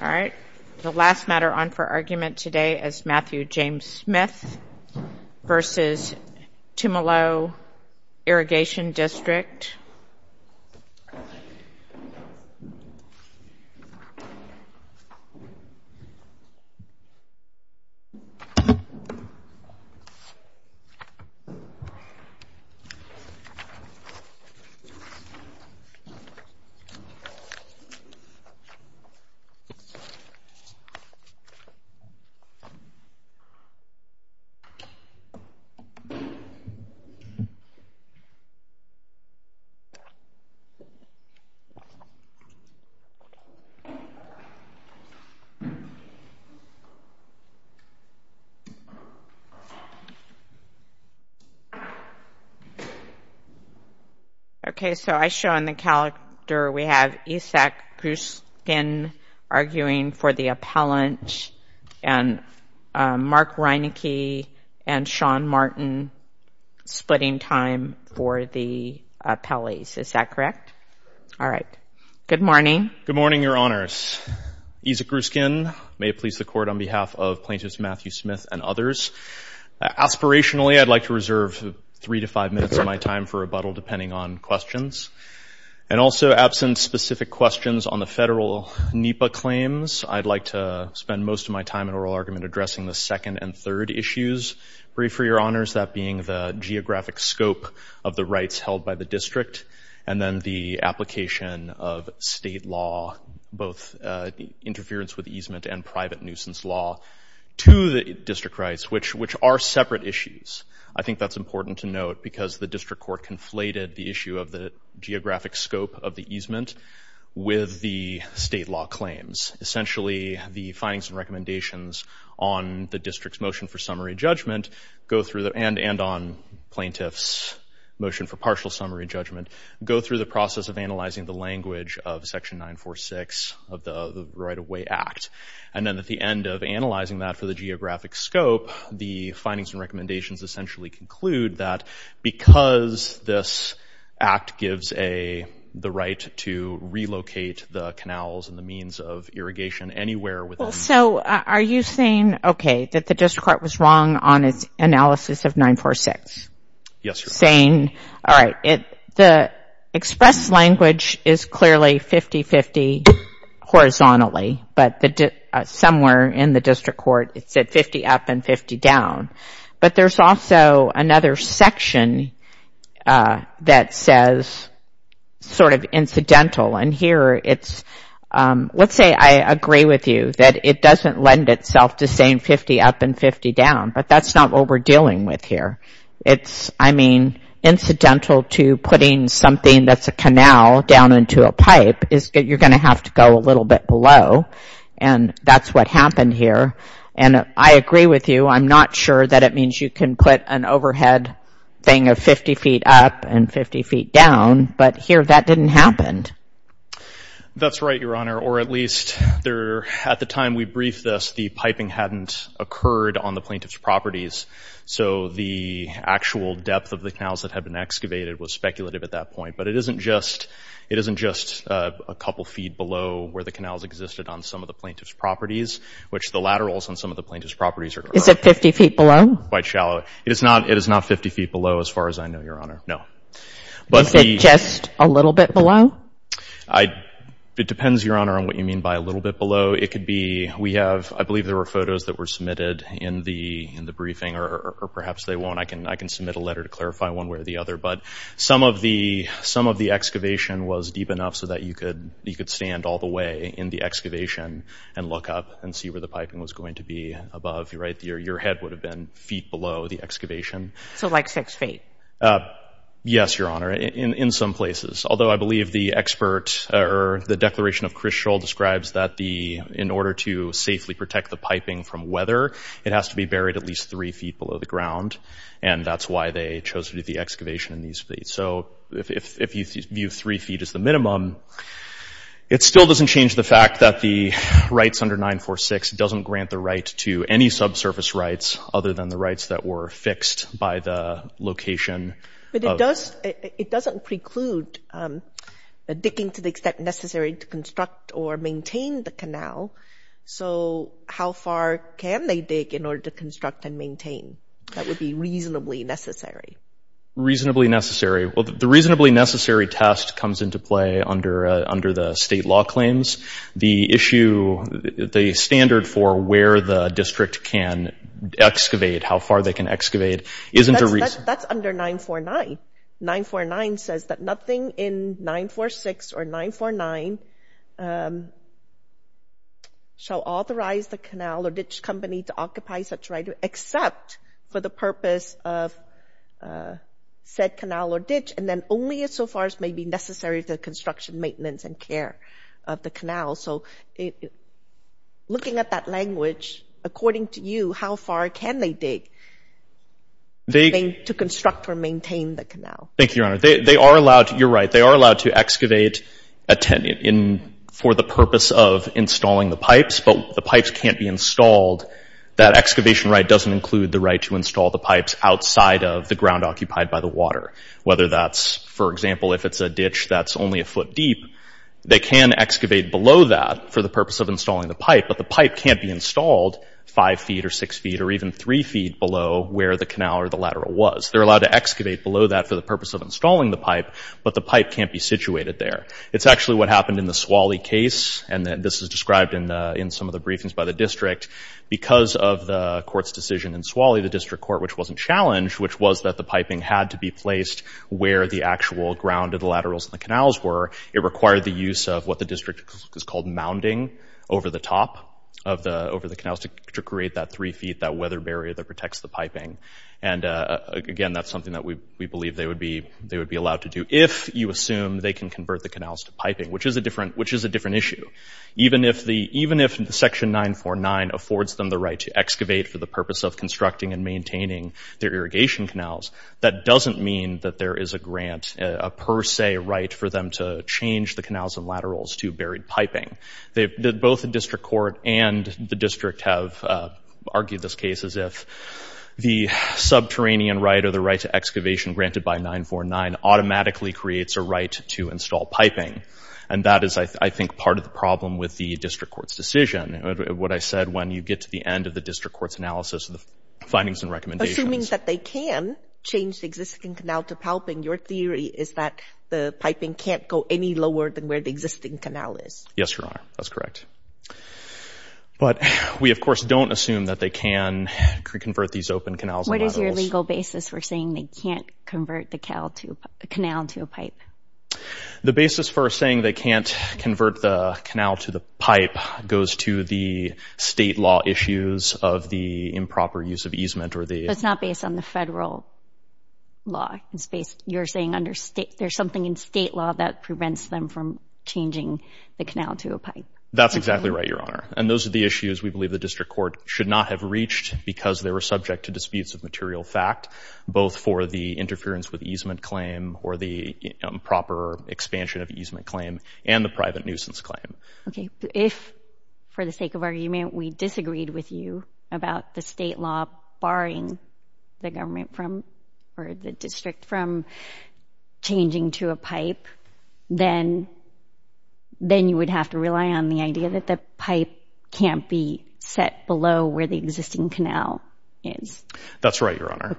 Alright, the last matter on for argument today is Matthew James Smith v. Tumalo Irrigation District. Matthew James Smith v. Tumalo Irrigation District Isaac Ruskin arguing for the appellant and Mark Reineke and Sean Martin splitting time for the appellees. Is that correct? Alright. Good morning. Isaac Ruskin Good morning, Your Honors. Isaac Ruskin. May it please the Court on behalf of Plaintiffs Matthew Smith and others. Aspirationally, I'd like to reserve three to five minutes of my time for rebuttal depending on questions. And also, absent specific questions on the federal NEPA claims, I'd like to spend most of my time in oral argument addressing the second and third issues. Briefly, Your Honors, that being the geographic scope of the rights held by the district and then the application of state law, both interference with easement and private nuisance law to the district rights, which are separate issues. I think that's important to note because the district court conflated the issue of the geographic scope of the easement with the state law claims. Essentially, the findings and recommendations on the district's motion for summary judgment and on plaintiffs' motion for partial summary judgment go through the process of analyzing the language of Section 946 of the Right-of-Way Act. And then at the end of analyzing that for the geographic scope, the findings and recommendations essentially conclude that because this act gives the right to relocate the canals and the means of irrigation anywhere within... Well, so are you saying, okay, that the district court was wrong on its analysis of 946? Yes, Your Honor. All right. The expressed language is clearly 50-50 horizontally, but somewhere in the district court it said 50 up and 50 down. But there's also another section that says sort of incidental. And here it's... Let's say I agree with you that it doesn't lend itself to saying 50 up and 50 down, but that's not what we're dealing with here. It's, I mean, incidental to putting something that's a canal down into a pipe. You're going to have to go a little bit below, and that's what happened here. And I agree with you. I'm not sure that it means you can put an overhead thing of 50 feet up and 50 feet down, but here that didn't happen. That's right, Your Honor. Or at least at the time we briefed this, the piping hadn't occurred on the plaintiff's properties. So the actual depth of the canals that had been excavated was speculative at that point. But it isn't just a couple feet below where the canals existed on some of the plaintiff's properties, which the laterals on some of the plaintiff's properties are quite shallow. Is it 50 feet below? It is not 50 feet below as far as I know, Your Honor, no. Is it just a little bit below? It depends, Your Honor, on what you mean by a little bit below. I believe there were photos that were submitted in the briefing, or perhaps they won't. I can submit a letter to clarify one way or the other. But some of the excavation was deep enough so that you could stand all the way in the excavation and look up and see where the piping was going to be above. Your head would have been feet below the excavation. So like six feet? Yes, Your Honor, in some places. Although I believe the expert – or the declaration of Chris Shull describes that the – in order to safely protect the piping from weather, it has to be buried at least three feet below the ground. And that's why they chose to do the excavation in these feet. So if you view three feet as the minimum, it still doesn't change the fact that the rights under 946 doesn't grant the right to any subsurface rights other than the rights that were fixed by the location. But it does – it doesn't preclude the digging to the extent necessary to construct or maintain the canal. So how far can they dig in order to construct and maintain? That would be reasonably necessary. Reasonably necessary. Well, the reasonably necessary test comes into play under the state law claims. The issue – the standard for where the district can excavate, how far they can excavate, isn't a – That's under 949. 949 says that nothing in 946 or 949 shall authorize the canal or ditch company to occupy such right except for the purpose of said canal or ditch, and then only insofar as may be necessary to the construction, maintenance, and care of the canal. So looking at that language, according to you, how far can they dig? They – To construct or maintain the canal. Thank you, Your Honor. They are allowed – you're right. They are allowed to excavate for the purpose of installing the pipes, but the pipes can't be installed. That excavation right doesn't include the right to install the pipes outside of the ground occupied by the water, whether that's, for example, if it's a ditch that's only a foot deep. They can excavate below that for the purpose of installing the pipe, but the pipe can't be installed 5 feet or 6 feet or even 3 feet below where the canal or the lateral was. They're allowed to excavate below that for the purpose of installing the pipe, but the pipe can't be situated there. It's actually what happened in the Swalley case, and this is described in some of the briefings by the district. Because of the court's decision in Swalley, the district court, which wasn't challenged, which was that the piping had to be placed where the actual ground of the laterals and the canals were, it required the use of what the district is called mounding over the top of the – over the canals to create that 3 feet, that weather barrier that protects the piping. And, again, that's something that we believe they would be allowed to do if you assume they can convert the canals to piping, which is a different issue. Even if the – even if Section 949 affords them the right to excavate for the purpose of constructing and maintaining their irrigation canals, that doesn't mean that there is a grant, a per se right, for them to change the canals and laterals to buried piping. Both the district court and the district have argued this case as if the subterranean right or the right to excavation granted by 949 automatically creates a right to install piping. And that is, I think, part of the problem with the district court's decision, what I said when you get to the end of the district court's analysis of the findings and recommendations. But assuming that they can change the existing canal to piping, your theory is that the piping can't go any lower than where the existing canal is. Yes, Your Honor. That's correct. But we, of course, don't assume that they can convert these open canals and laterals. What is your legal basis for saying they can't convert the canal to a pipe? The basis for saying they can't convert the canal to the pipe goes to the state law issues of the improper use of easement or the— But it's not based on the federal law. You're saying there's something in state law that prevents them from changing the canal to a pipe. That's exactly right, Your Honor. And those are the issues we believe the district court should not have reached because they were subject to disputes of material fact, both for the interference with easement claim or the improper expansion of easement claim and the private nuisance claim. Okay. If, for the sake of argument, we disagreed with you about the state law barring the district from changing to a pipe, then you would have to rely on the idea that the pipe can't be set below where the existing canal is. That's right, Your Honor,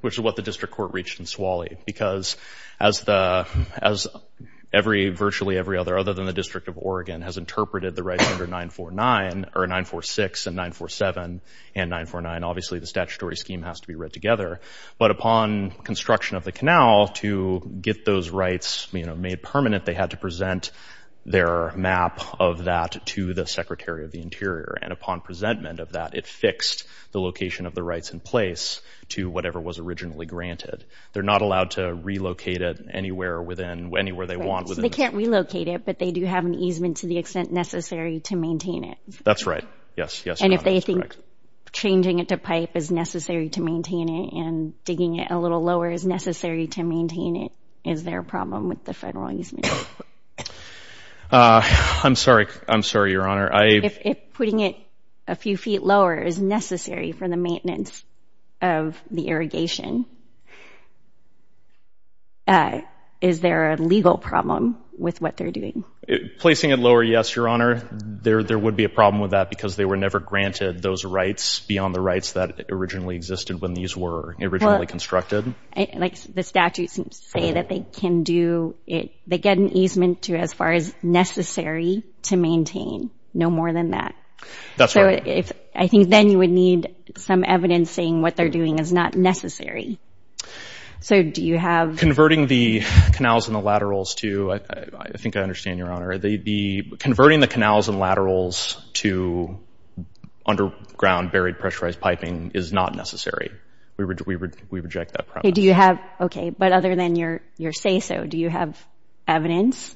which is what the district court reached in Swalley because as virtually every other, other than the District of Oregon, has interpreted the rights under 946 and 947 and 949, obviously the statutory scheme has to be read together. But upon construction of the canal, to get those rights made permanent, they had to present their map of that to the Secretary of the Interior. And upon presentment of that, it fixed the location of the rights in place to whatever was originally granted. They're not allowed to relocate it anywhere within, anywhere they want. They can't relocate it, but they do have an easement to the extent necessary to maintain it. That's right. Yes, yes, Your Honor, that's correct. And if they think changing it to pipe is necessary to maintain it and digging it a little lower is necessary to maintain it, is there a problem with the federal easement? I'm sorry. I'm sorry, Your Honor. If putting it a few feet lower is necessary for the maintenance of the irrigation, is there a legal problem with what they're doing? Placing it lower, yes, Your Honor. There would be a problem with that because they were never granted those rights beyond the rights that originally existed when these were originally constructed. Like the statutes say that they can do it, they get an easement to as far as necessary to maintain, no more than that. That's right. So I think then you would need some evidence saying what they're doing is not necessary. So do you have— Converting the canals and the laterals to—I think I understand, Your Honor. The—converting the canals and laterals to underground buried pressurized piping is not necessary. We reject that process. Okay, do you have—okay, but other than your say-so, do you have evidence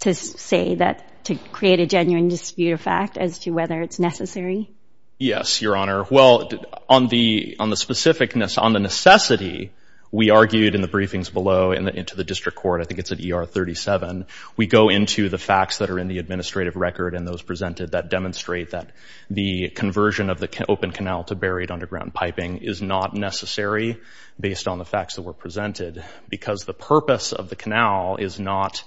to say that—to create a genuine dispute of fact as to whether it's necessary? Yes, Your Honor. Well, on the specificness, on the necessity, we argued in the briefings below and to the district court, I think it's at ER 37, we go into the facts that are in the administrative record and those presented that demonstrate that the conversion of the open canal to buried underground piping is not necessary based on the facts that were presented because the purpose of the canal is not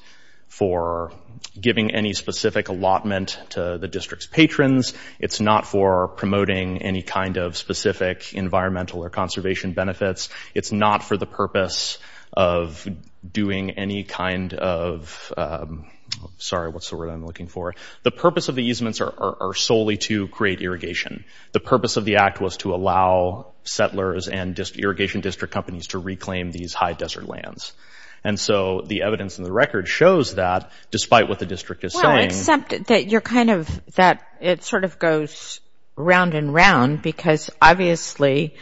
for giving any specific allotment to the district's patrons. It's not for promoting any kind of specific environmental or conservation benefits. It's not for the purpose of doing any kind of— sorry, what's the word I'm looking for? The purpose of the easements are solely to create irrigation. The purpose of the act was to allow settlers and irrigation district companies to reclaim these high desert lands. And so the evidence in the record shows that despite what the district is saying— Well, except that you're kind of—that it sort of goes round and round because obviously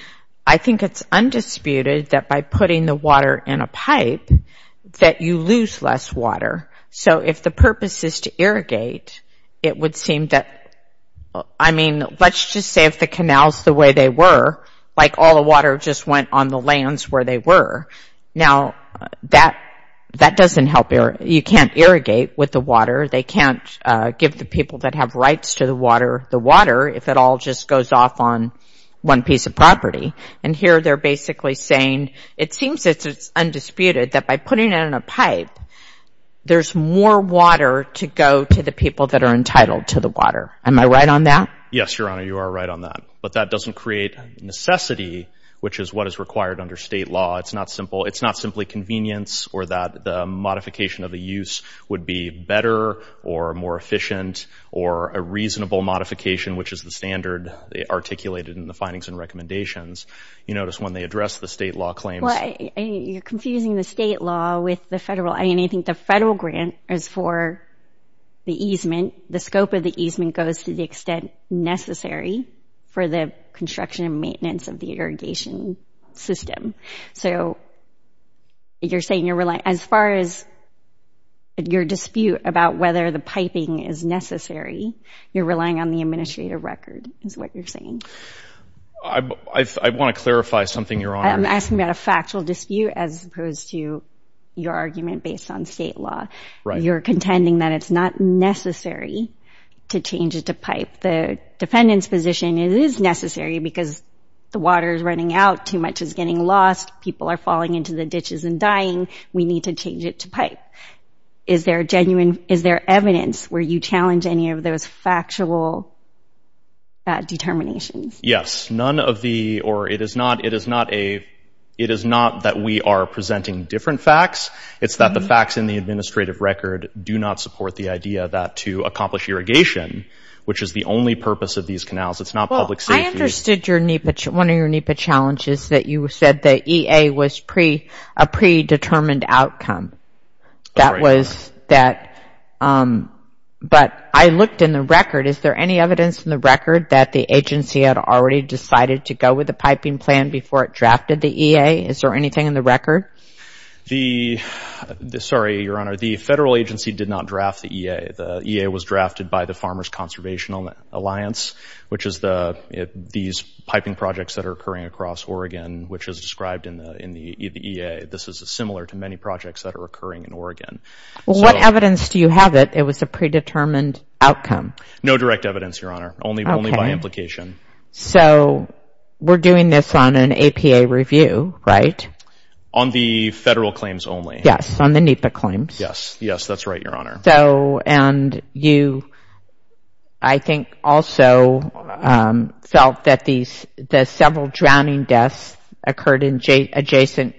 I think it's undisputed that by putting the water in a pipe that you lose less water. So if the purpose is to irrigate, it would seem that— I mean, let's just say if the canal's the way they were, like all the water just went on the lands where they were. Now, that doesn't help. You can't irrigate with the water. They can't give the people that have rights to the water the water if it all just goes off on one piece of property. And here they're basically saying it seems it's undisputed that by putting it in a pipe there's more water to go to the people that are entitled to the water. Am I right on that? Yes, Your Honor, you are right on that. But that doesn't create necessity, which is what is required under state law. It's not simply convenience or that the modification of the use would be better or more efficient or a reasonable modification, which is the standard articulated in the findings and recommendations. You notice when they address the state law claims— Well, you're confusing the state law with the federal. I mean, I think the federal grant is for the easement. The scope of the easement goes to the extent necessary for the construction and maintenance of the irrigation system. So you're saying you're relying— As far as your dispute about whether the piping is necessary, you're relying on the administrative record is what you're saying. I want to clarify something, Your Honor. I'm asking about a factual dispute as opposed to your argument based on state law. You're contending that it's not necessary to change it to pipe. The defendant's position, it is necessary because the water is running out, too much is getting lost, people are falling into the ditches and dying. We need to change it to pipe. Is there genuine—is there evidence where you challenge any of those factual determinations? Yes, none of the—or it is not that we are presenting different facts. It's that the facts in the administrative record do not support the idea that to accomplish irrigation, which is the only purpose of these canals, it's not public safety. Well, I understood one of your NEPA challenges, that you said the EA was a predetermined outcome. That was that—but I looked in the record. Is there any evidence in the record that the agency had already decided to go with the piping plan before it drafted the EA? Is there anything in the record? The—sorry, Your Honor, the federal agency did not draft the EA. The EA was drafted by the Farmers Conservation Alliance, which is these piping projects that are occurring across Oregon, which is described in the EA. This is similar to many projects that are occurring in Oregon. Well, what evidence do you have that it was a predetermined outcome? No direct evidence, Your Honor, only by implication. So we're doing this on an APA review, right? On the federal claims only. Yes, on the NEPA claims. Yes, yes, that's right, Your Honor. So—and you, I think, also felt that the several drowning deaths occurred in adjacent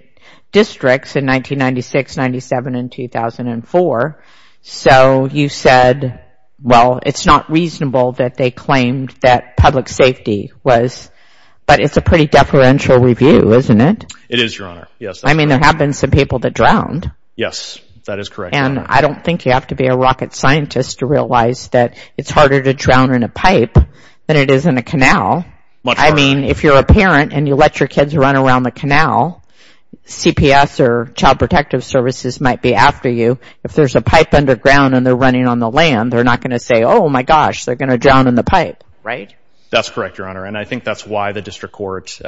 districts in 1996, 97, and 2004. So you said, well, it's not reasonable that they claimed that public safety was— but it's a pretty deferential review, isn't it? It is, Your Honor, yes. I mean, there have been some people that drowned. Yes, that is correct. And I don't think you have to be a rocket scientist to realize that it's harder to drown in a pipe than it is in a canal. Much harder. I mean, if you're a parent and you let your kids run around the canal, CPS or Child Protective Services might be after you. If there's a pipe underground and they're running on the land, they're not going to say, oh, my gosh, they're going to drown in the pipe, right? That's correct, Your Honor. And I think that's why the district court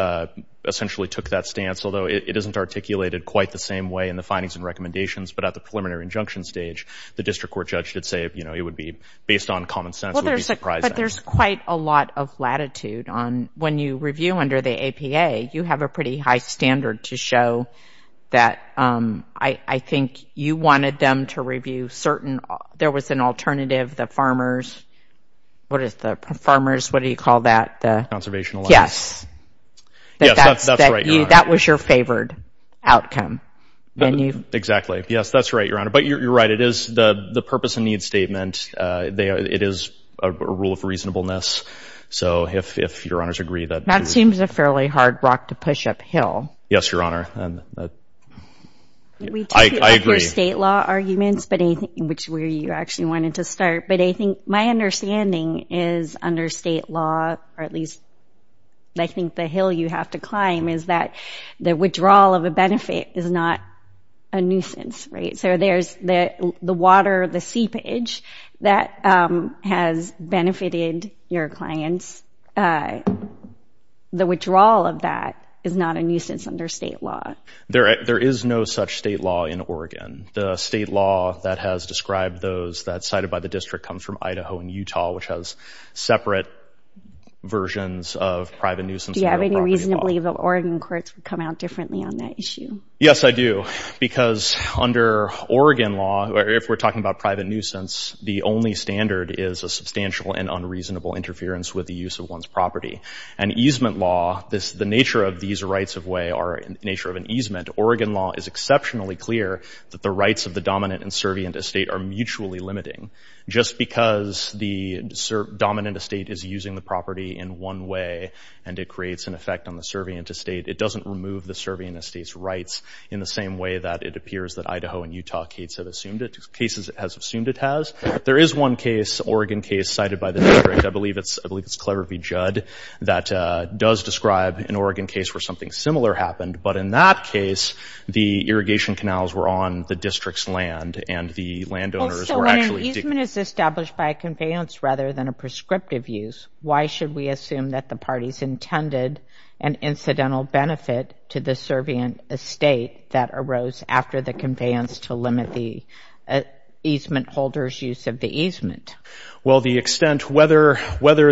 essentially took that stance, although it isn't articulated quite the same way in the findings and recommendations. But at the preliminary injunction stage, the district court judge did say, you know, it would be based on common sense. It would be surprising. But there's quite a lot of latitude on—when you review under the APA, you have a pretty high standard to show that, I think, you wanted them to review certain—there was an alternative, the farmers— what do you call that? Conservation allowance. Yes, that's right, Your Honor. That was your favored outcome. Exactly. Yes, that's right, Your Honor. But you're right. It is the purpose and needs statement. It is a rule of reasonableness. So if Your Honors agree that— That seems a fairly hard rock to push uphill. Yes, Your Honor. I agree. We took up your state law arguments, which is where you actually wanted to start. But I think my understanding is under state law, or at least I think the hill you have to climb, is that the withdrawal of a benefit is not a nuisance, right? So there's the water, the seepage, that has benefited your clients. The withdrawal of that is not a nuisance under state law. There is no such state law in Oregon. The state law that has described those that's cited by the district comes from Idaho and Utah, which has separate versions of private nuisance and real property law. Do you have any reason to believe that Oregon courts would come out differently on that issue? Yes, I do. Because under Oregon law, if we're talking about private nuisance, the only standard is a substantial and unreasonable interference with the use of one's property. And easement law, the nature of these rights of way are in the nature of an easement. Oregon law is exceptionally clear that the rights of the dominant and servient estate are mutually limiting. Just because the dominant estate is using the property in one way, and it creates an effect on the servient estate, it doesn't remove the servient estate's rights in the same way that it appears that Idaho and Utah cases have assumed it has. There is one case, Oregon case, cited by the district. I believe it's Clever v. Judd that does describe an Oregon case where something similar happened. But in that case, the irrigation canals were on the district's land and the landowners were actually— So when an easement is established by a conveyance rather than a prescriptive use, why should we assume that the parties intended an incidental benefit to the servient estate that arose after the conveyance to limit the easement holder's use of the easement? Well, the extent whether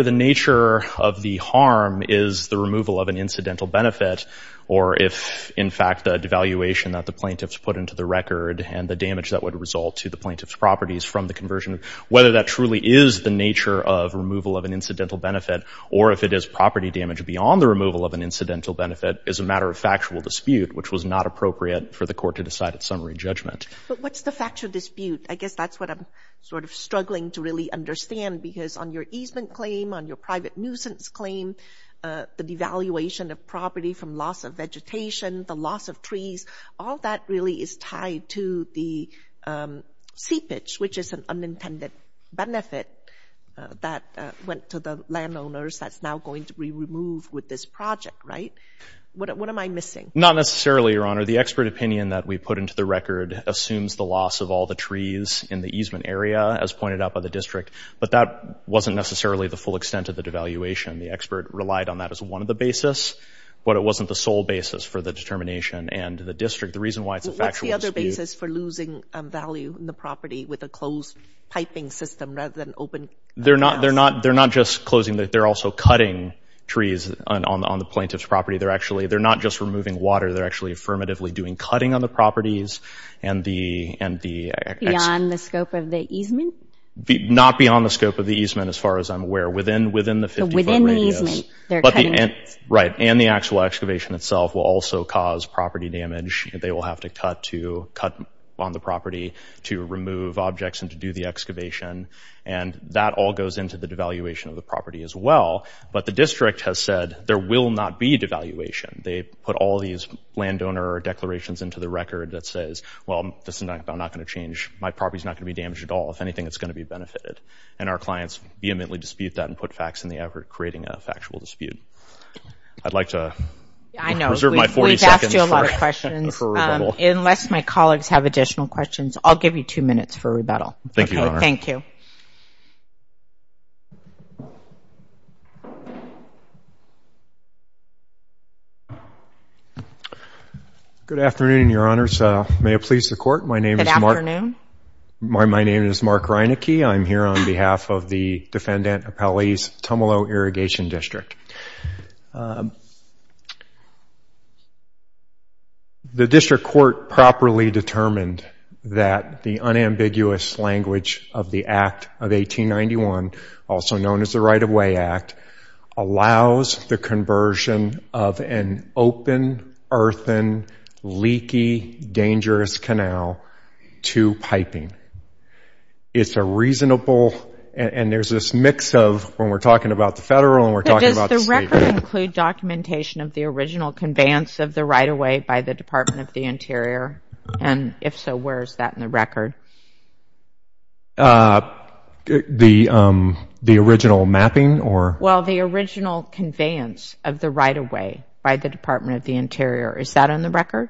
the nature of the harm is the removal of an incidental benefit or if, in fact, the devaluation that the plaintiffs put into the record and the damage that would result to the plaintiff's properties from the conversion, whether that truly is the nature of removal of an incidental benefit or if it is property damage beyond the removal of an incidental benefit is a matter of factual dispute, which was not appropriate for the court to decide at summary judgment. But what's the factual dispute? I guess that's what I'm sort of struggling to really understand, because on your easement claim, on your private nuisance claim, the devaluation of property from loss of vegetation, the loss of trees, all that really is tied to the seepage, which is an unintended benefit that went to the landowners that's now going to be removed with this project, right? What am I missing? Not necessarily, Your Honor. The expert opinion that we put into the record assumes the loss of all the trees in the easement area, as pointed out by the district, but that wasn't necessarily the full extent of the devaluation. The expert relied on that as one of the basis, but it wasn't the sole basis for the determination. And the district, the reason why it's a factual dispute — What's the other basis for losing value in the property with a closed piping system rather than open — They're not just closing. They're also cutting trees on the plaintiff's property. They're actually — they're not just removing water. They're actually affirmatively doing cutting on the properties and the — Beyond the scope of the easement? Not beyond the scope of the easement, as far as I'm aware. Within the 50-foot radius. So within the easement, they're cutting. Right. And the actual excavation itself will also cause property damage. They will have to cut to cut on the property to remove objects and to do the excavation. And that all goes into the devaluation of the property as well. But the district has said there will not be devaluation. They put all these landowner declarations into the record that says, well, this is not going to change. My property is not going to be damaged at all. If anything, it's going to be benefited. And our clients vehemently dispute that and put facts in the effort, creating a factual dispute. I'd like to reserve my 40 seconds for rebuttal. We've asked you a lot of questions. Unless my colleagues have additional questions, I'll give you two minutes for rebuttal. Thank you, Your Honor. Thank you. Good afternoon, Your Honors. May it please the Court. My name is Mark — Good afternoon. My name is Mark Reineke. I'm here on behalf of the Defendant Appellee's Tumalo Irrigation District. The district court properly determined that the unambiguous language of the Act of 1891, also known as the Right-of-Way Act, allows the conversion of an open, earthen, leaky, dangerous canal to piping. It's a reasonable — and there's this mix of when we're talking about the federal and we're talking about the state. Does the record include documentation of the original conveyance of the right-of-way by the Department of the Interior? And if so, where is that in the record? The original mapping or — Well, the original conveyance of the right-of-way by the Department of the Interior. Is that on the record?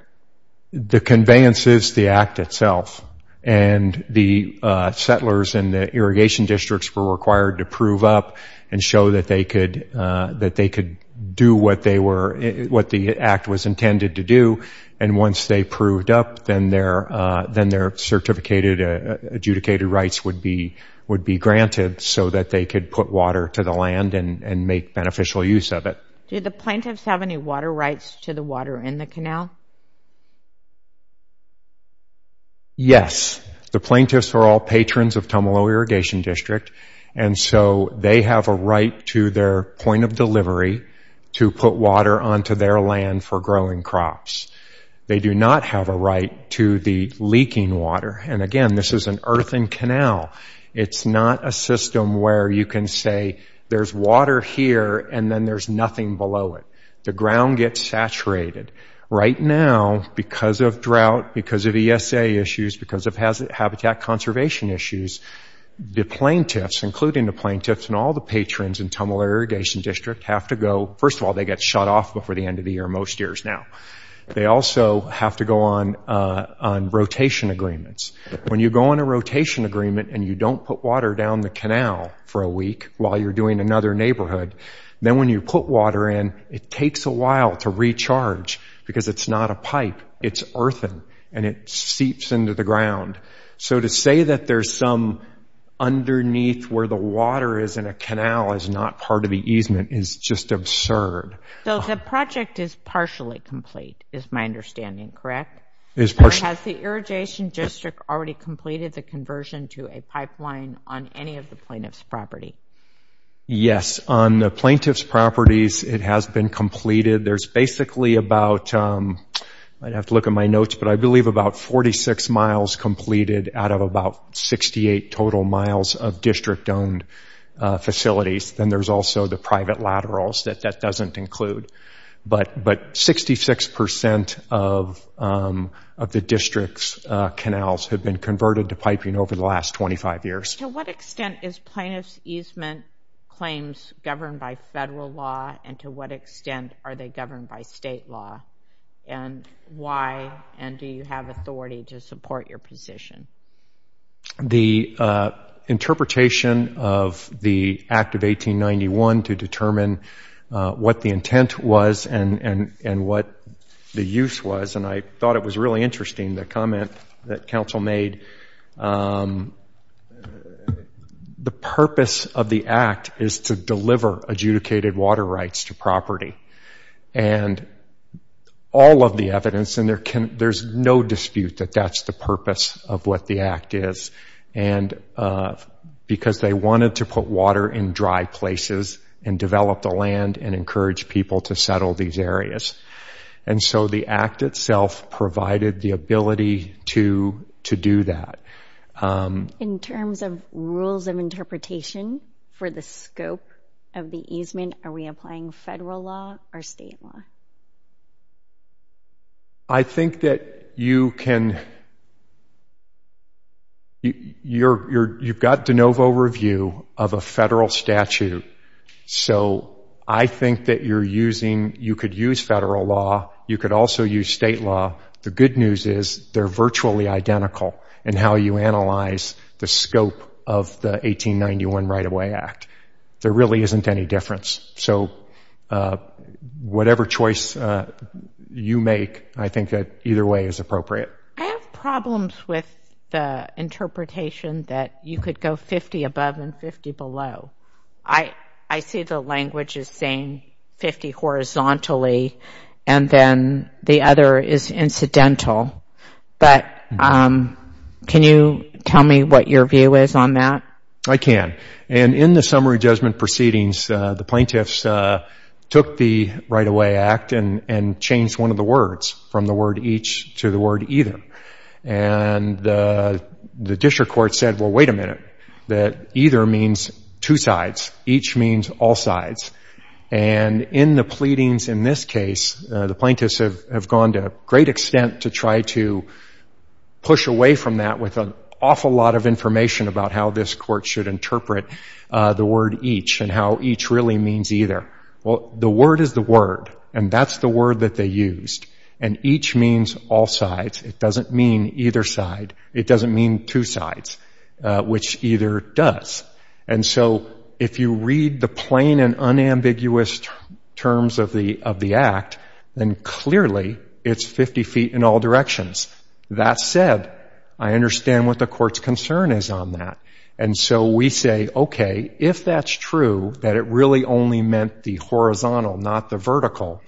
The conveyance is the Act itself. And the settlers in the irrigation districts were required to prove up and show that they could do what the Act was intended to do. And once they proved up, then their adjudicated rights would be granted so that they could put water to the land and make beneficial use of it. Do the plaintiffs have any water rights to the water in the canal? Yes. The plaintiffs are all patrons of Tumalo Irrigation District. And so they have a right to their point of delivery to put water onto their land for growing crops. They do not have a right to the leaking water. And again, this is an earthen canal. It's not a system where you can say, there's water here and then there's nothing below it. The ground gets saturated. Right now, because of drought, because of ESA issues, because of habitat conservation issues, the plaintiffs, including the plaintiffs and all the patrons in Tumalo Irrigation District, have to go — first of all, they get shut off before the end of the year, most years now. They also have to go on rotation agreements. When you go on a rotation agreement and you don't put water down the canal for a week while you're doing another neighborhood, then when you put water in, it takes a while to recharge because it's not a pipe. It's earthen. And it seeps into the ground. So to say that there's some underneath where the water is in a canal is not part of the easement is just absurd. So the project is partially complete, is my understanding, correct? Has the Irrigation District already completed the conversion to a pipeline on any of the plaintiffs' property? Yes. On the plaintiffs' properties, it has been completed. There's basically about — I'd have to look at my notes, but I believe about 46 miles completed out of about 68 total miles of district-owned facilities. Then there's also the private laterals that that doesn't include. But 66 percent of the district's canals have been converted to piping over the last 25 years. To what extent is plaintiff's easement claims governed by federal law, and to what extent are they governed by state law? And why, and do you have authority to support your position? The interpretation of the Act of 1891 to determine what the intent was and what the use was, and I thought it was really interesting, the comment that Council made, the purpose of the Act is to deliver adjudicated water rights to property. And all of the evidence, and there's no dispute that that's the purpose of what the Act is. And because they wanted to put water in dry places and develop the land and encourage people to settle these areas. And so the Act itself provided the ability to do that. In terms of rules of interpretation for the scope of the easement, are we applying federal law or state law? I think that you can, you've got de novo review of a federal statute. So I think that you're using, you could use federal law, you could also use state law. The good news is they're virtually identical in how you analyze the scope of the 1891 Right-of-Way Act. There really isn't any difference. So whatever choice you make, I think that either way is appropriate. I have problems with the interpretation that you could go 50 above and 50 below. I see the language as saying 50 horizontally and then the other is incidental. But can you tell me what your view is on that? I can. And in the summary judgment proceedings, the plaintiffs took the Right-of-Way Act and changed one of the words from the word each to the word either. And the district court said, well, wait a minute, that either means two sides, each means all sides. And in the pleadings in this case, the plaintiffs have gone to a great extent to try to push away from that with an awful lot of information about how this court should interpret the word each and how each really means either. Well, the word is the word, and that's the word that they used. And each means all sides. It doesn't mean either side. It doesn't mean two sides, which either does. And so if you read the plain and unambiguous terms of the Act, then clearly it's 50 feet in all directions. That said, I understand what the court's concern is on that. And so we say, okay, if that's true, that it really only meant the horizontal, not the vertical,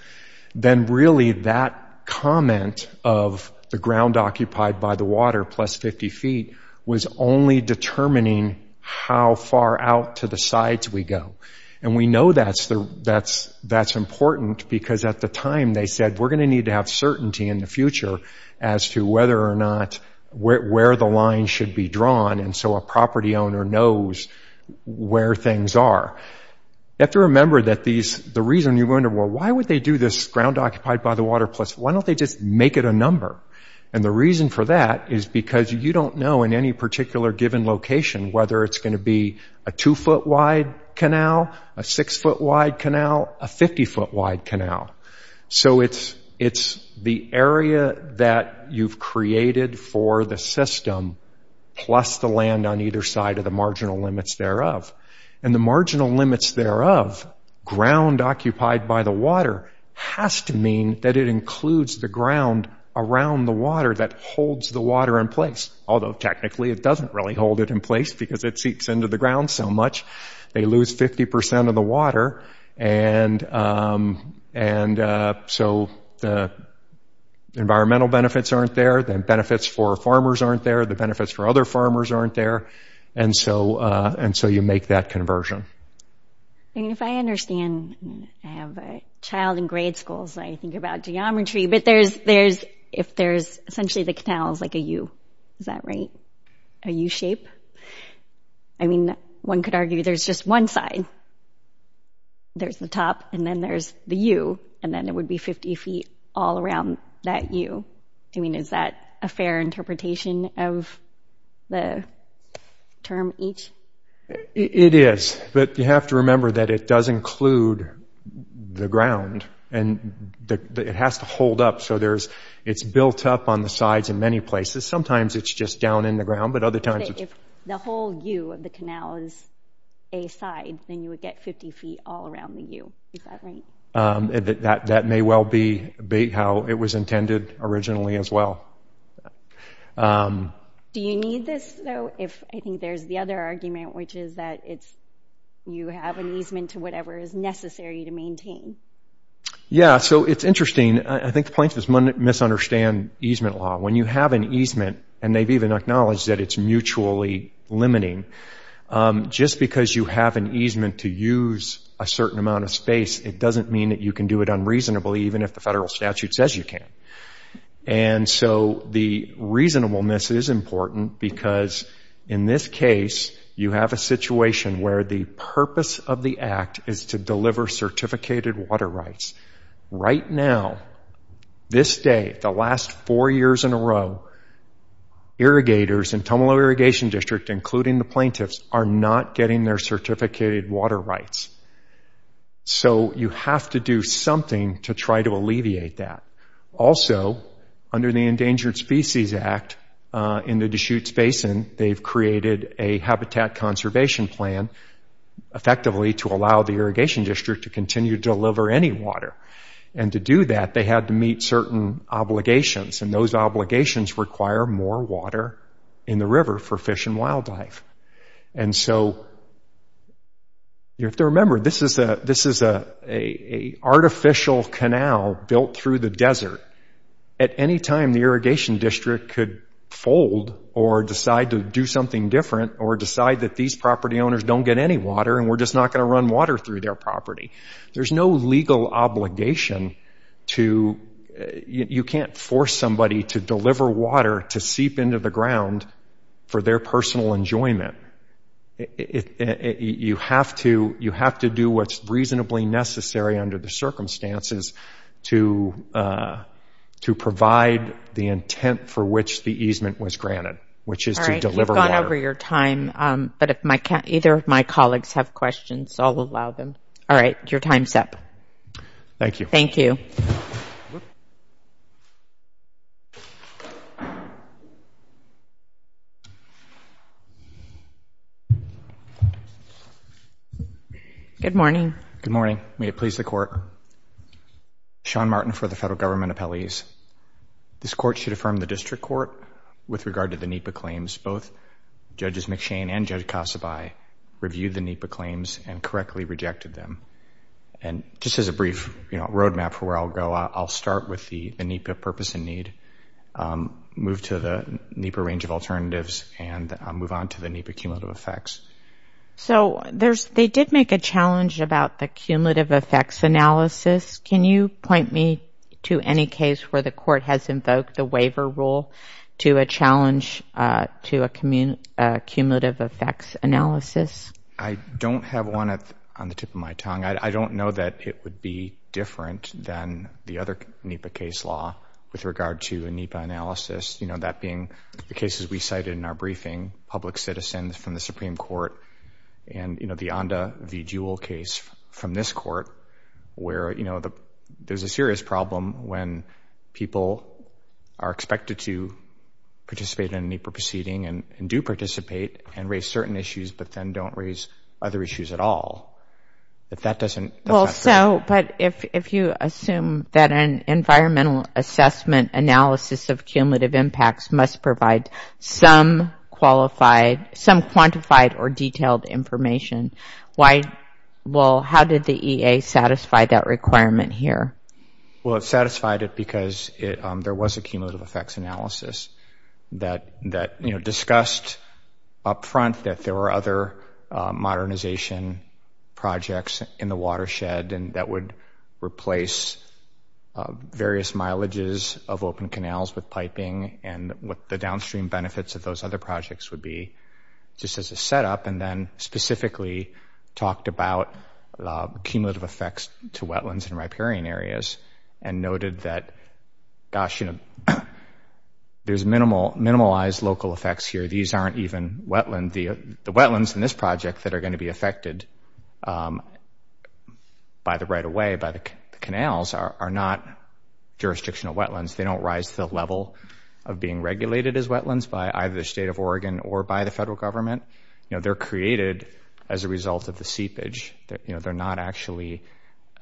then really that comment of the ground occupied by the water plus 50 feet was only determining how far out to the sides we go. And we know that's important because at the time they said, we're going to need to have certainty in the future as to whether or not where the line should be drawn, and so a property owner knows where things are. You have to remember that the reason you wonder, well, why would they do this ground occupied by the water plus – why don't they just make it a number? And the reason for that is because you don't know in any particular given location whether it's going to be a 2-foot-wide canal, a 6-foot-wide canal, a 50-foot-wide canal. So it's the area that you've created for the system plus the land on either side of the marginal limits thereof. And the marginal limits thereof, ground occupied by the water, has to mean that it includes the ground around the water that holds the water in place, although technically it doesn't really hold it in place because it seeps into the ground so much. They lose 50% of the water, and so the environmental benefits aren't there. The benefits for farmers aren't there. The benefits for other farmers aren't there. And so you make that conversion. And if I understand – I have a child in grade school, so I think about geometry, but there's – if there's – essentially the canal is like a U. Is that right? A U-shape? I mean, one could argue there's just one side. There's the top, and then there's the U, and then it would be 50 feet all around that U. I mean, is that a fair interpretation of the term each? It is, but you have to remember that it does include the ground. And it has to hold up, so there's – it's built up on the sides in many places. Sometimes it's just down in the ground, but other times it's – If the whole U of the canal is a side, then you would get 50 feet all around the U. Is that right? That may well be how it was intended originally as well. Do you need this, though, if – I think there's the other argument, which is that it's – you have an easement to whatever is necessary to maintain. Yeah, so it's interesting. I think the plaintiffs misunderstand easement law. When you have an easement – and they've even acknowledged that it's mutually limiting – just because you have an easement to use a certain amount of space, it doesn't mean that you can do it unreasonably, even if the federal statute says you can. And so the reasonableness is important because, in this case, you have a situation where the purpose of the act is to deliver certificated water rights. Right now, this day, the last four years in a row, irrigators in Tumalo Irrigation District, including the plaintiffs, are not getting their certificated water rights. So you have to do something to try to alleviate that. Also, under the Endangered Species Act in the Deschutes Basin, they've created a habitat conservation plan, effectively, to allow the Irrigation District to continue to deliver any water. And to do that, they had to meet certain obligations, and those obligations require more water in the river for fish and wildlife. And so you have to remember, this is an artificial canal built through the desert. At any time, the Irrigation District could fold or decide to do something different or decide that these property owners don't get any water and we're just not going to run water through their property. There's no legal obligation to—you can't force somebody to deliver water to seep into the ground for their personal enjoyment. You have to do what's reasonably necessary under the circumstances to provide the intent for which the easement was granted, which is to deliver water. Either of my colleagues have questions, so I'll allow them. All right, your time's up. Thank you. Good morning. Good morning. May it please the Court. Sean Martin for the Federal Government Appellees. This Court should affirm the District Court with regard to the NEPA claims. Both Judges McShane and Judge Kasabai reviewed the NEPA claims and correctly rejected them. And just as a brief roadmap for where I'll go, I'll start with the NEPA purpose and need, move to the NEPA range of alternatives, and move on to the NEPA cumulative effects. So they did make a challenge about the cumulative effects analysis. Can you point me to any case where the Court has invoked the waiver rule to a challenge to a cumulative effects analysis? I don't have one on the tip of my tongue. I don't know that it would be different than the other NEPA case law with regard to a NEPA analysis, that being the cases we cited in our briefing, public citizens from the Supreme Court, and the Onda v. Jewell case from this Court, where, you know, there's a serious problem when people are expected to participate in a NEPA proceeding and do participate and raise certain issues, but then don't raise other issues at all. If that doesn't... Well, so, but if you assume that an environmental assessment analysis of cumulative impacts must provide some qualified, some quantified or detailed information, why, well, how did the EA satisfy that requirement here? Well, it satisfied it because there was a cumulative effects analysis that, you know, discussed up front that there were other modernization projects in the watershed and that would replace various mileages of open canals with piping and what the downstream benefits of those other projects would be just as a setup, and then specifically talked about cumulative effects to wetlands and riparian areas and noted that, gosh, you know, there's minimalized local effects here. These aren't even wetlands. The wetlands in this project that are going to be affected by the right-of-way, by the canals, are not jurisdictional wetlands. They don't rise to the level of being regulated as wetlands by either the state of Oregon or by the federal government. You know, they're created as a result of the seepage. You know, they're not actually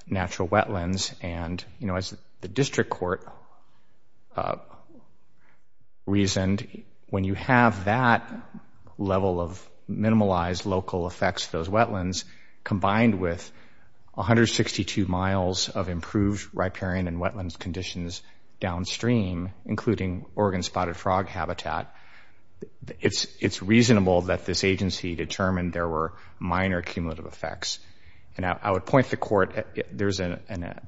natural wetlands. And, you know, as the district court reasoned, when you have that level of minimalized local effects to those wetlands combined with 162 miles of improved riparian and wetlands conditions downstream, including Oregon spotted frog habitat, it's reasonable that this agency determined there were minor cumulative effects. And I would point to the court, there's an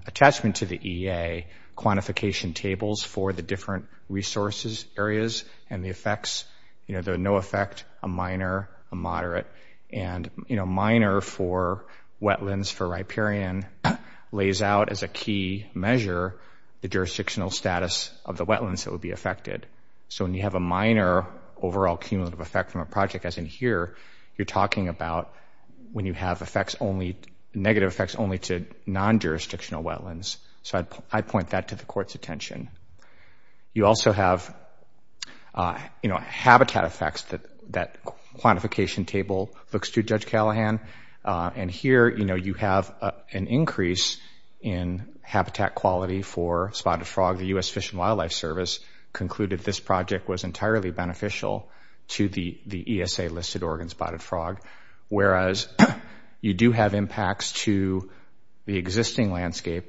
attachment to the EA, quantification tables for the different resources, areas, and the effects. You know, there are no effect, a minor, a moderate. And, you know, minor for wetlands for riparian lays out as a key measure the jurisdictional status of the wetlands that would be affected. So when you have a minor overall cumulative effect from a project, as in here, you're talking about when you have effects only, negative effects only to non-jurisdictional wetlands. So I'd point that to the court's attention. You also have, you know, habitat effects that that quantification table looks to, Judge Callahan. And here, you know, you have an increase in habitat quality for spotted frog. The U.S. Fish and Wildlife Service concluded this project was entirely beneficial to the ESA-listed Oregon spotted frog. Whereas you do have impacts to the existing landscape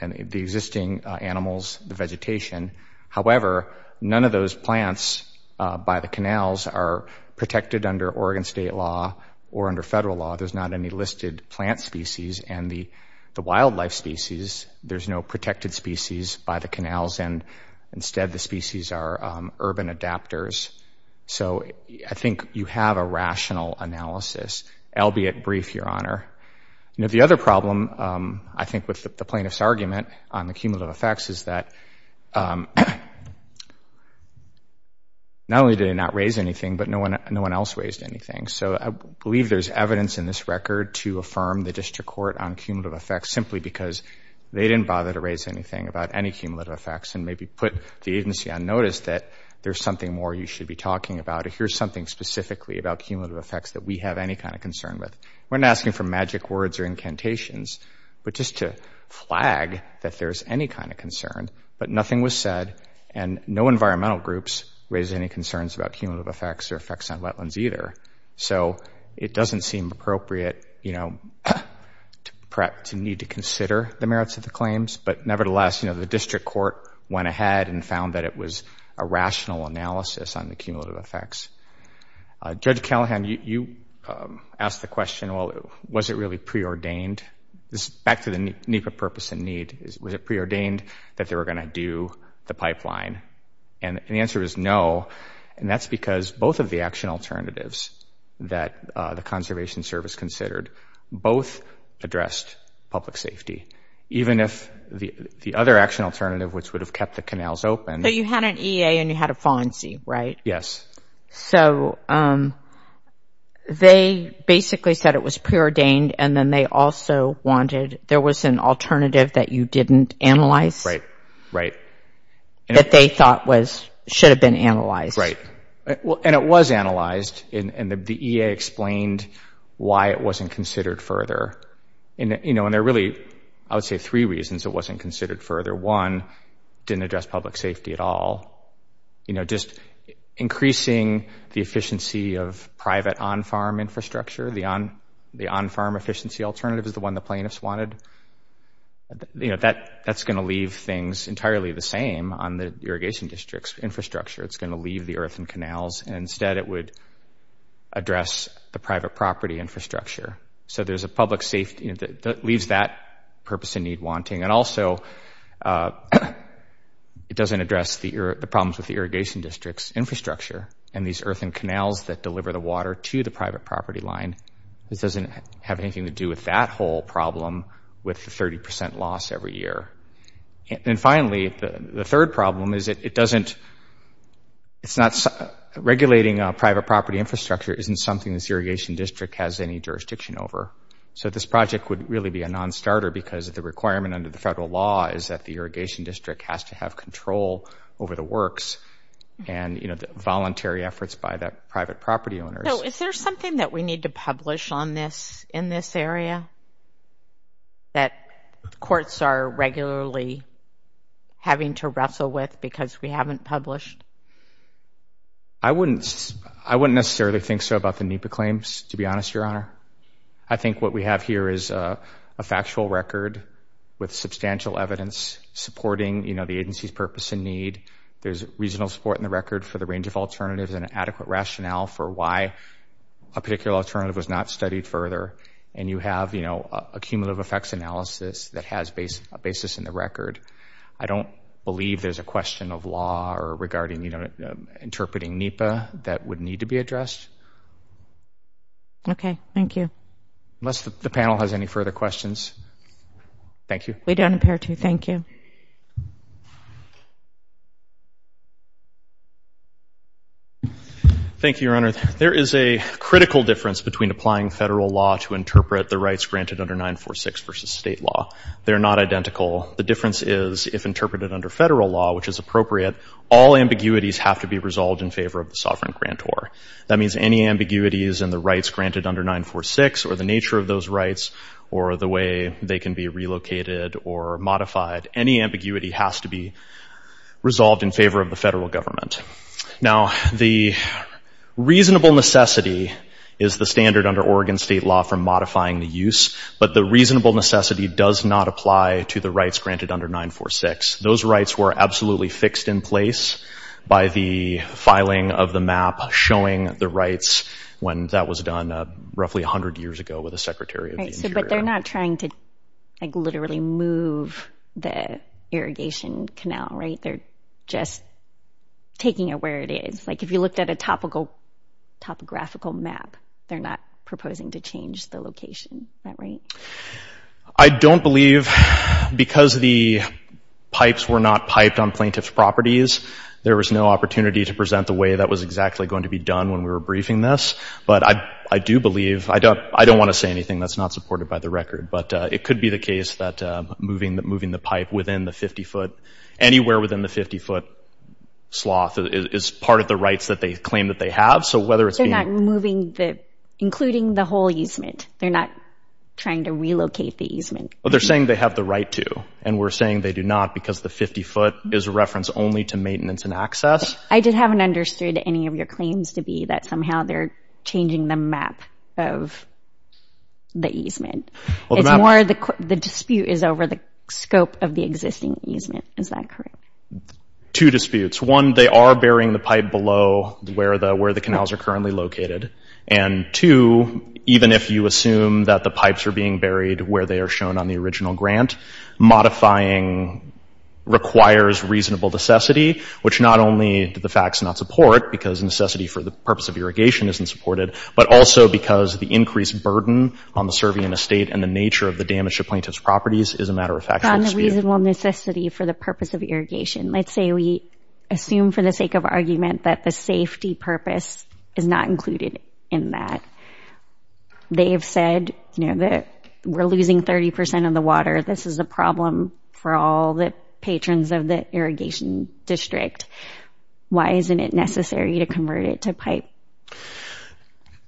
and the existing animals, the vegetation. However, none of those plants by the canals are protected under Oregon state law or under federal law. There's not any listed plant species. And the wildlife species, there's no protected species by the canals. And instead, the species are urban adapters. So I think you have a rational analysis, albeit brief, Your Honor. You know, the other problem, I think, with the plaintiff's argument on the cumulative effects is that not only did it not raise anything, but no one else raised anything. So I believe there's evidence in this record to affirm the district court on cumulative effects simply because they didn't bother to raise anything about any cumulative effects and maybe put the agency on notice that there's something more you should be talking about. Here's something specifically about cumulative effects that we have any kind of concern with. We're not asking for magic words or incantations, but just to flag that there's any kind of concern. But nothing was said, and no environmental groups raised any concerns about cumulative effects or effects on wetlands either. So it doesn't seem appropriate, you know, perhaps to need to consider the merits of the claims. But nevertheless, you know, the district court went ahead and found that it was a rational analysis on the cumulative effects. Judge Callahan, you asked the question, well, was it really preordained? This is back to the need for purpose and need. Was it preordained that they were going to do the pipeline? And the answer is no, and that's because both of the action alternatives that the Conservation Service considered both addressed public safety, even if the other action alternative, which would have kept the canals open. So you had an EA and you had a FONSI, right? Yes. So they basically said it was preordained, and then they also wanted – there was an alternative that you didn't analyze? Right, right. That they thought was – should have been analyzed. And it was analyzed, and the EA explained why it wasn't considered further. And, you know, and there are really, I would say, three reasons it wasn't considered further. One, didn't address public safety at all. You know, just increasing the efficiency of private on-farm infrastructure, the on-farm efficiency alternative is the one the plaintiffs wanted. You know, that's going to leave things entirely the same on the irrigation district's infrastructure. It's going to leave the earthen canals, and instead it would address the private property infrastructure. So there's a public safety – leaves that purpose and need wanting. And also, it doesn't address the problems with the irrigation district's infrastructure and these earthen canals that deliver the water to the private property line. This doesn't have anything to do with that whole problem with the 30% loss every year. And finally, the third problem is it doesn't – it's not – regulating private property infrastructure isn't something this irrigation district has any jurisdiction over. So this project would really be a non-starter because the requirement under the federal law is that the irrigation district has to have control over the works and, you know, the voluntary efforts by the private property owners. So is there something that we need to publish on this – in this area that courts are regularly having to wrestle with because we haven't published? I wouldn't – I wouldn't necessarily think so about the NEPA claims, to be honest, Your Honor. I think what we have here is a factual record with substantial evidence supporting, you know, the agency's purpose and need. There's reasonable support in the record for the range of alternatives and adequate rationale for why a particular alternative was not studied further. And you have, you know, a cumulative effects analysis that has a basis in the record. I don't believe there's a question of law or regarding, you know, interpreting NEPA that would need to be addressed. Okay. Thank you. Unless the panel has any further questions. Thank you. We don't appear to. Thank you. Thank you, Your Honor. There is a critical difference between applying federal law to interpret the rights granted under 946 versus state law. They're not identical. The difference is if interpreted under federal law, which is appropriate, all ambiguities have to be resolved in favor of the sovereign grantor. That means any ambiguities in the rights granted under 946 or the nature of those rights or the way they can be relocated or modified, any ambiguity has to be resolved in favor of the federal government. Now, the reasonable necessity is the standard under Oregon state law for modifying the use, but the reasonable necessity does not apply to the rights granted under 946. Those rights were absolutely fixed in place by the filing of the map showing the rights when that was done roughly 100 years ago with the Secretary of the Interior. But they're not trying to, like, literally move the irrigation canal, right? They're just taking it where it is. Like, if you looked at a topical – topographical map, they're not proposing to change the location. Is that right? I don't believe – because the pipes were not piped on plaintiff's properties, there was no opportunity to present the way that was exactly going to be done when we were briefing this. But I do believe – I don't want to say anything that's not supported by the record, but it could be the case that moving the pipe within the 50-foot – anywhere within the 50-foot sloth is part of the rights that they claim that they have. So whether it's being – They're not moving the – including the whole easement. They're not trying to relocate the easement. Well, they're saying they have the right to, and we're saying they do not because the 50-foot is a reference only to maintenance and access. I just haven't understood any of your claims to be that somehow they're changing the map of the easement. It's more of the – the dispute is over the scope of the existing easement. Is that correct? Two disputes. One, they are burying the pipe below where the – where the canals are currently located. And two, even if you assume that the pipes are being buried where they are shown on the original grant, modifying requires reasonable necessity, which not only do the facts not support, because necessity for the purpose of irrigation isn't supported, but also because the increased burden on the surveying the state and the nature of the damage to plaintiff's properties is a matter of factual dispute. On the reasonable necessity for the purpose of irrigation, let's say we assume for the sake of argument that the safety purpose is not included in that. They have said, you know, that we're losing 30 percent of the water. This is a problem for all the patrons of the irrigation district. Why isn't it necessary to convert it to pipe?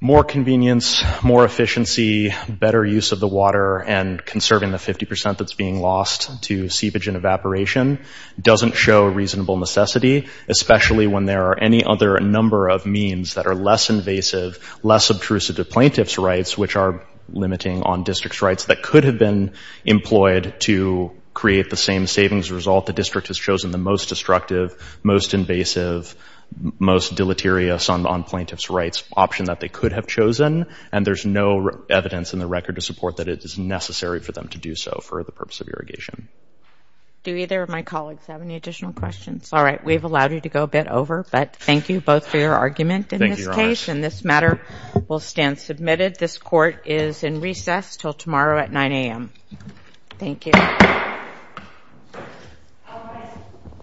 More convenience, more efficiency, better use of the water, and conserving the 50 percent that's being lost to seepage and evaporation doesn't show reasonable necessity, especially when there are any other number of means that are less invasive, less obtrusive to plaintiff's rights, which are limiting on district's rights that could have been employed to create the same savings result. The district has chosen the most destructive, most invasive, most deleterious on plaintiff's rights option that they could have chosen, and there's no evidence in the record to support that it is necessary for them to do so for the purpose of irrigation. Do either of my colleagues have any additional questions? All right, we've allowed you to go a bit over, but thank you both for your argument in this case, and this matter will stand submitted. This court is in recess until tomorrow at 9 a.m. Thank you.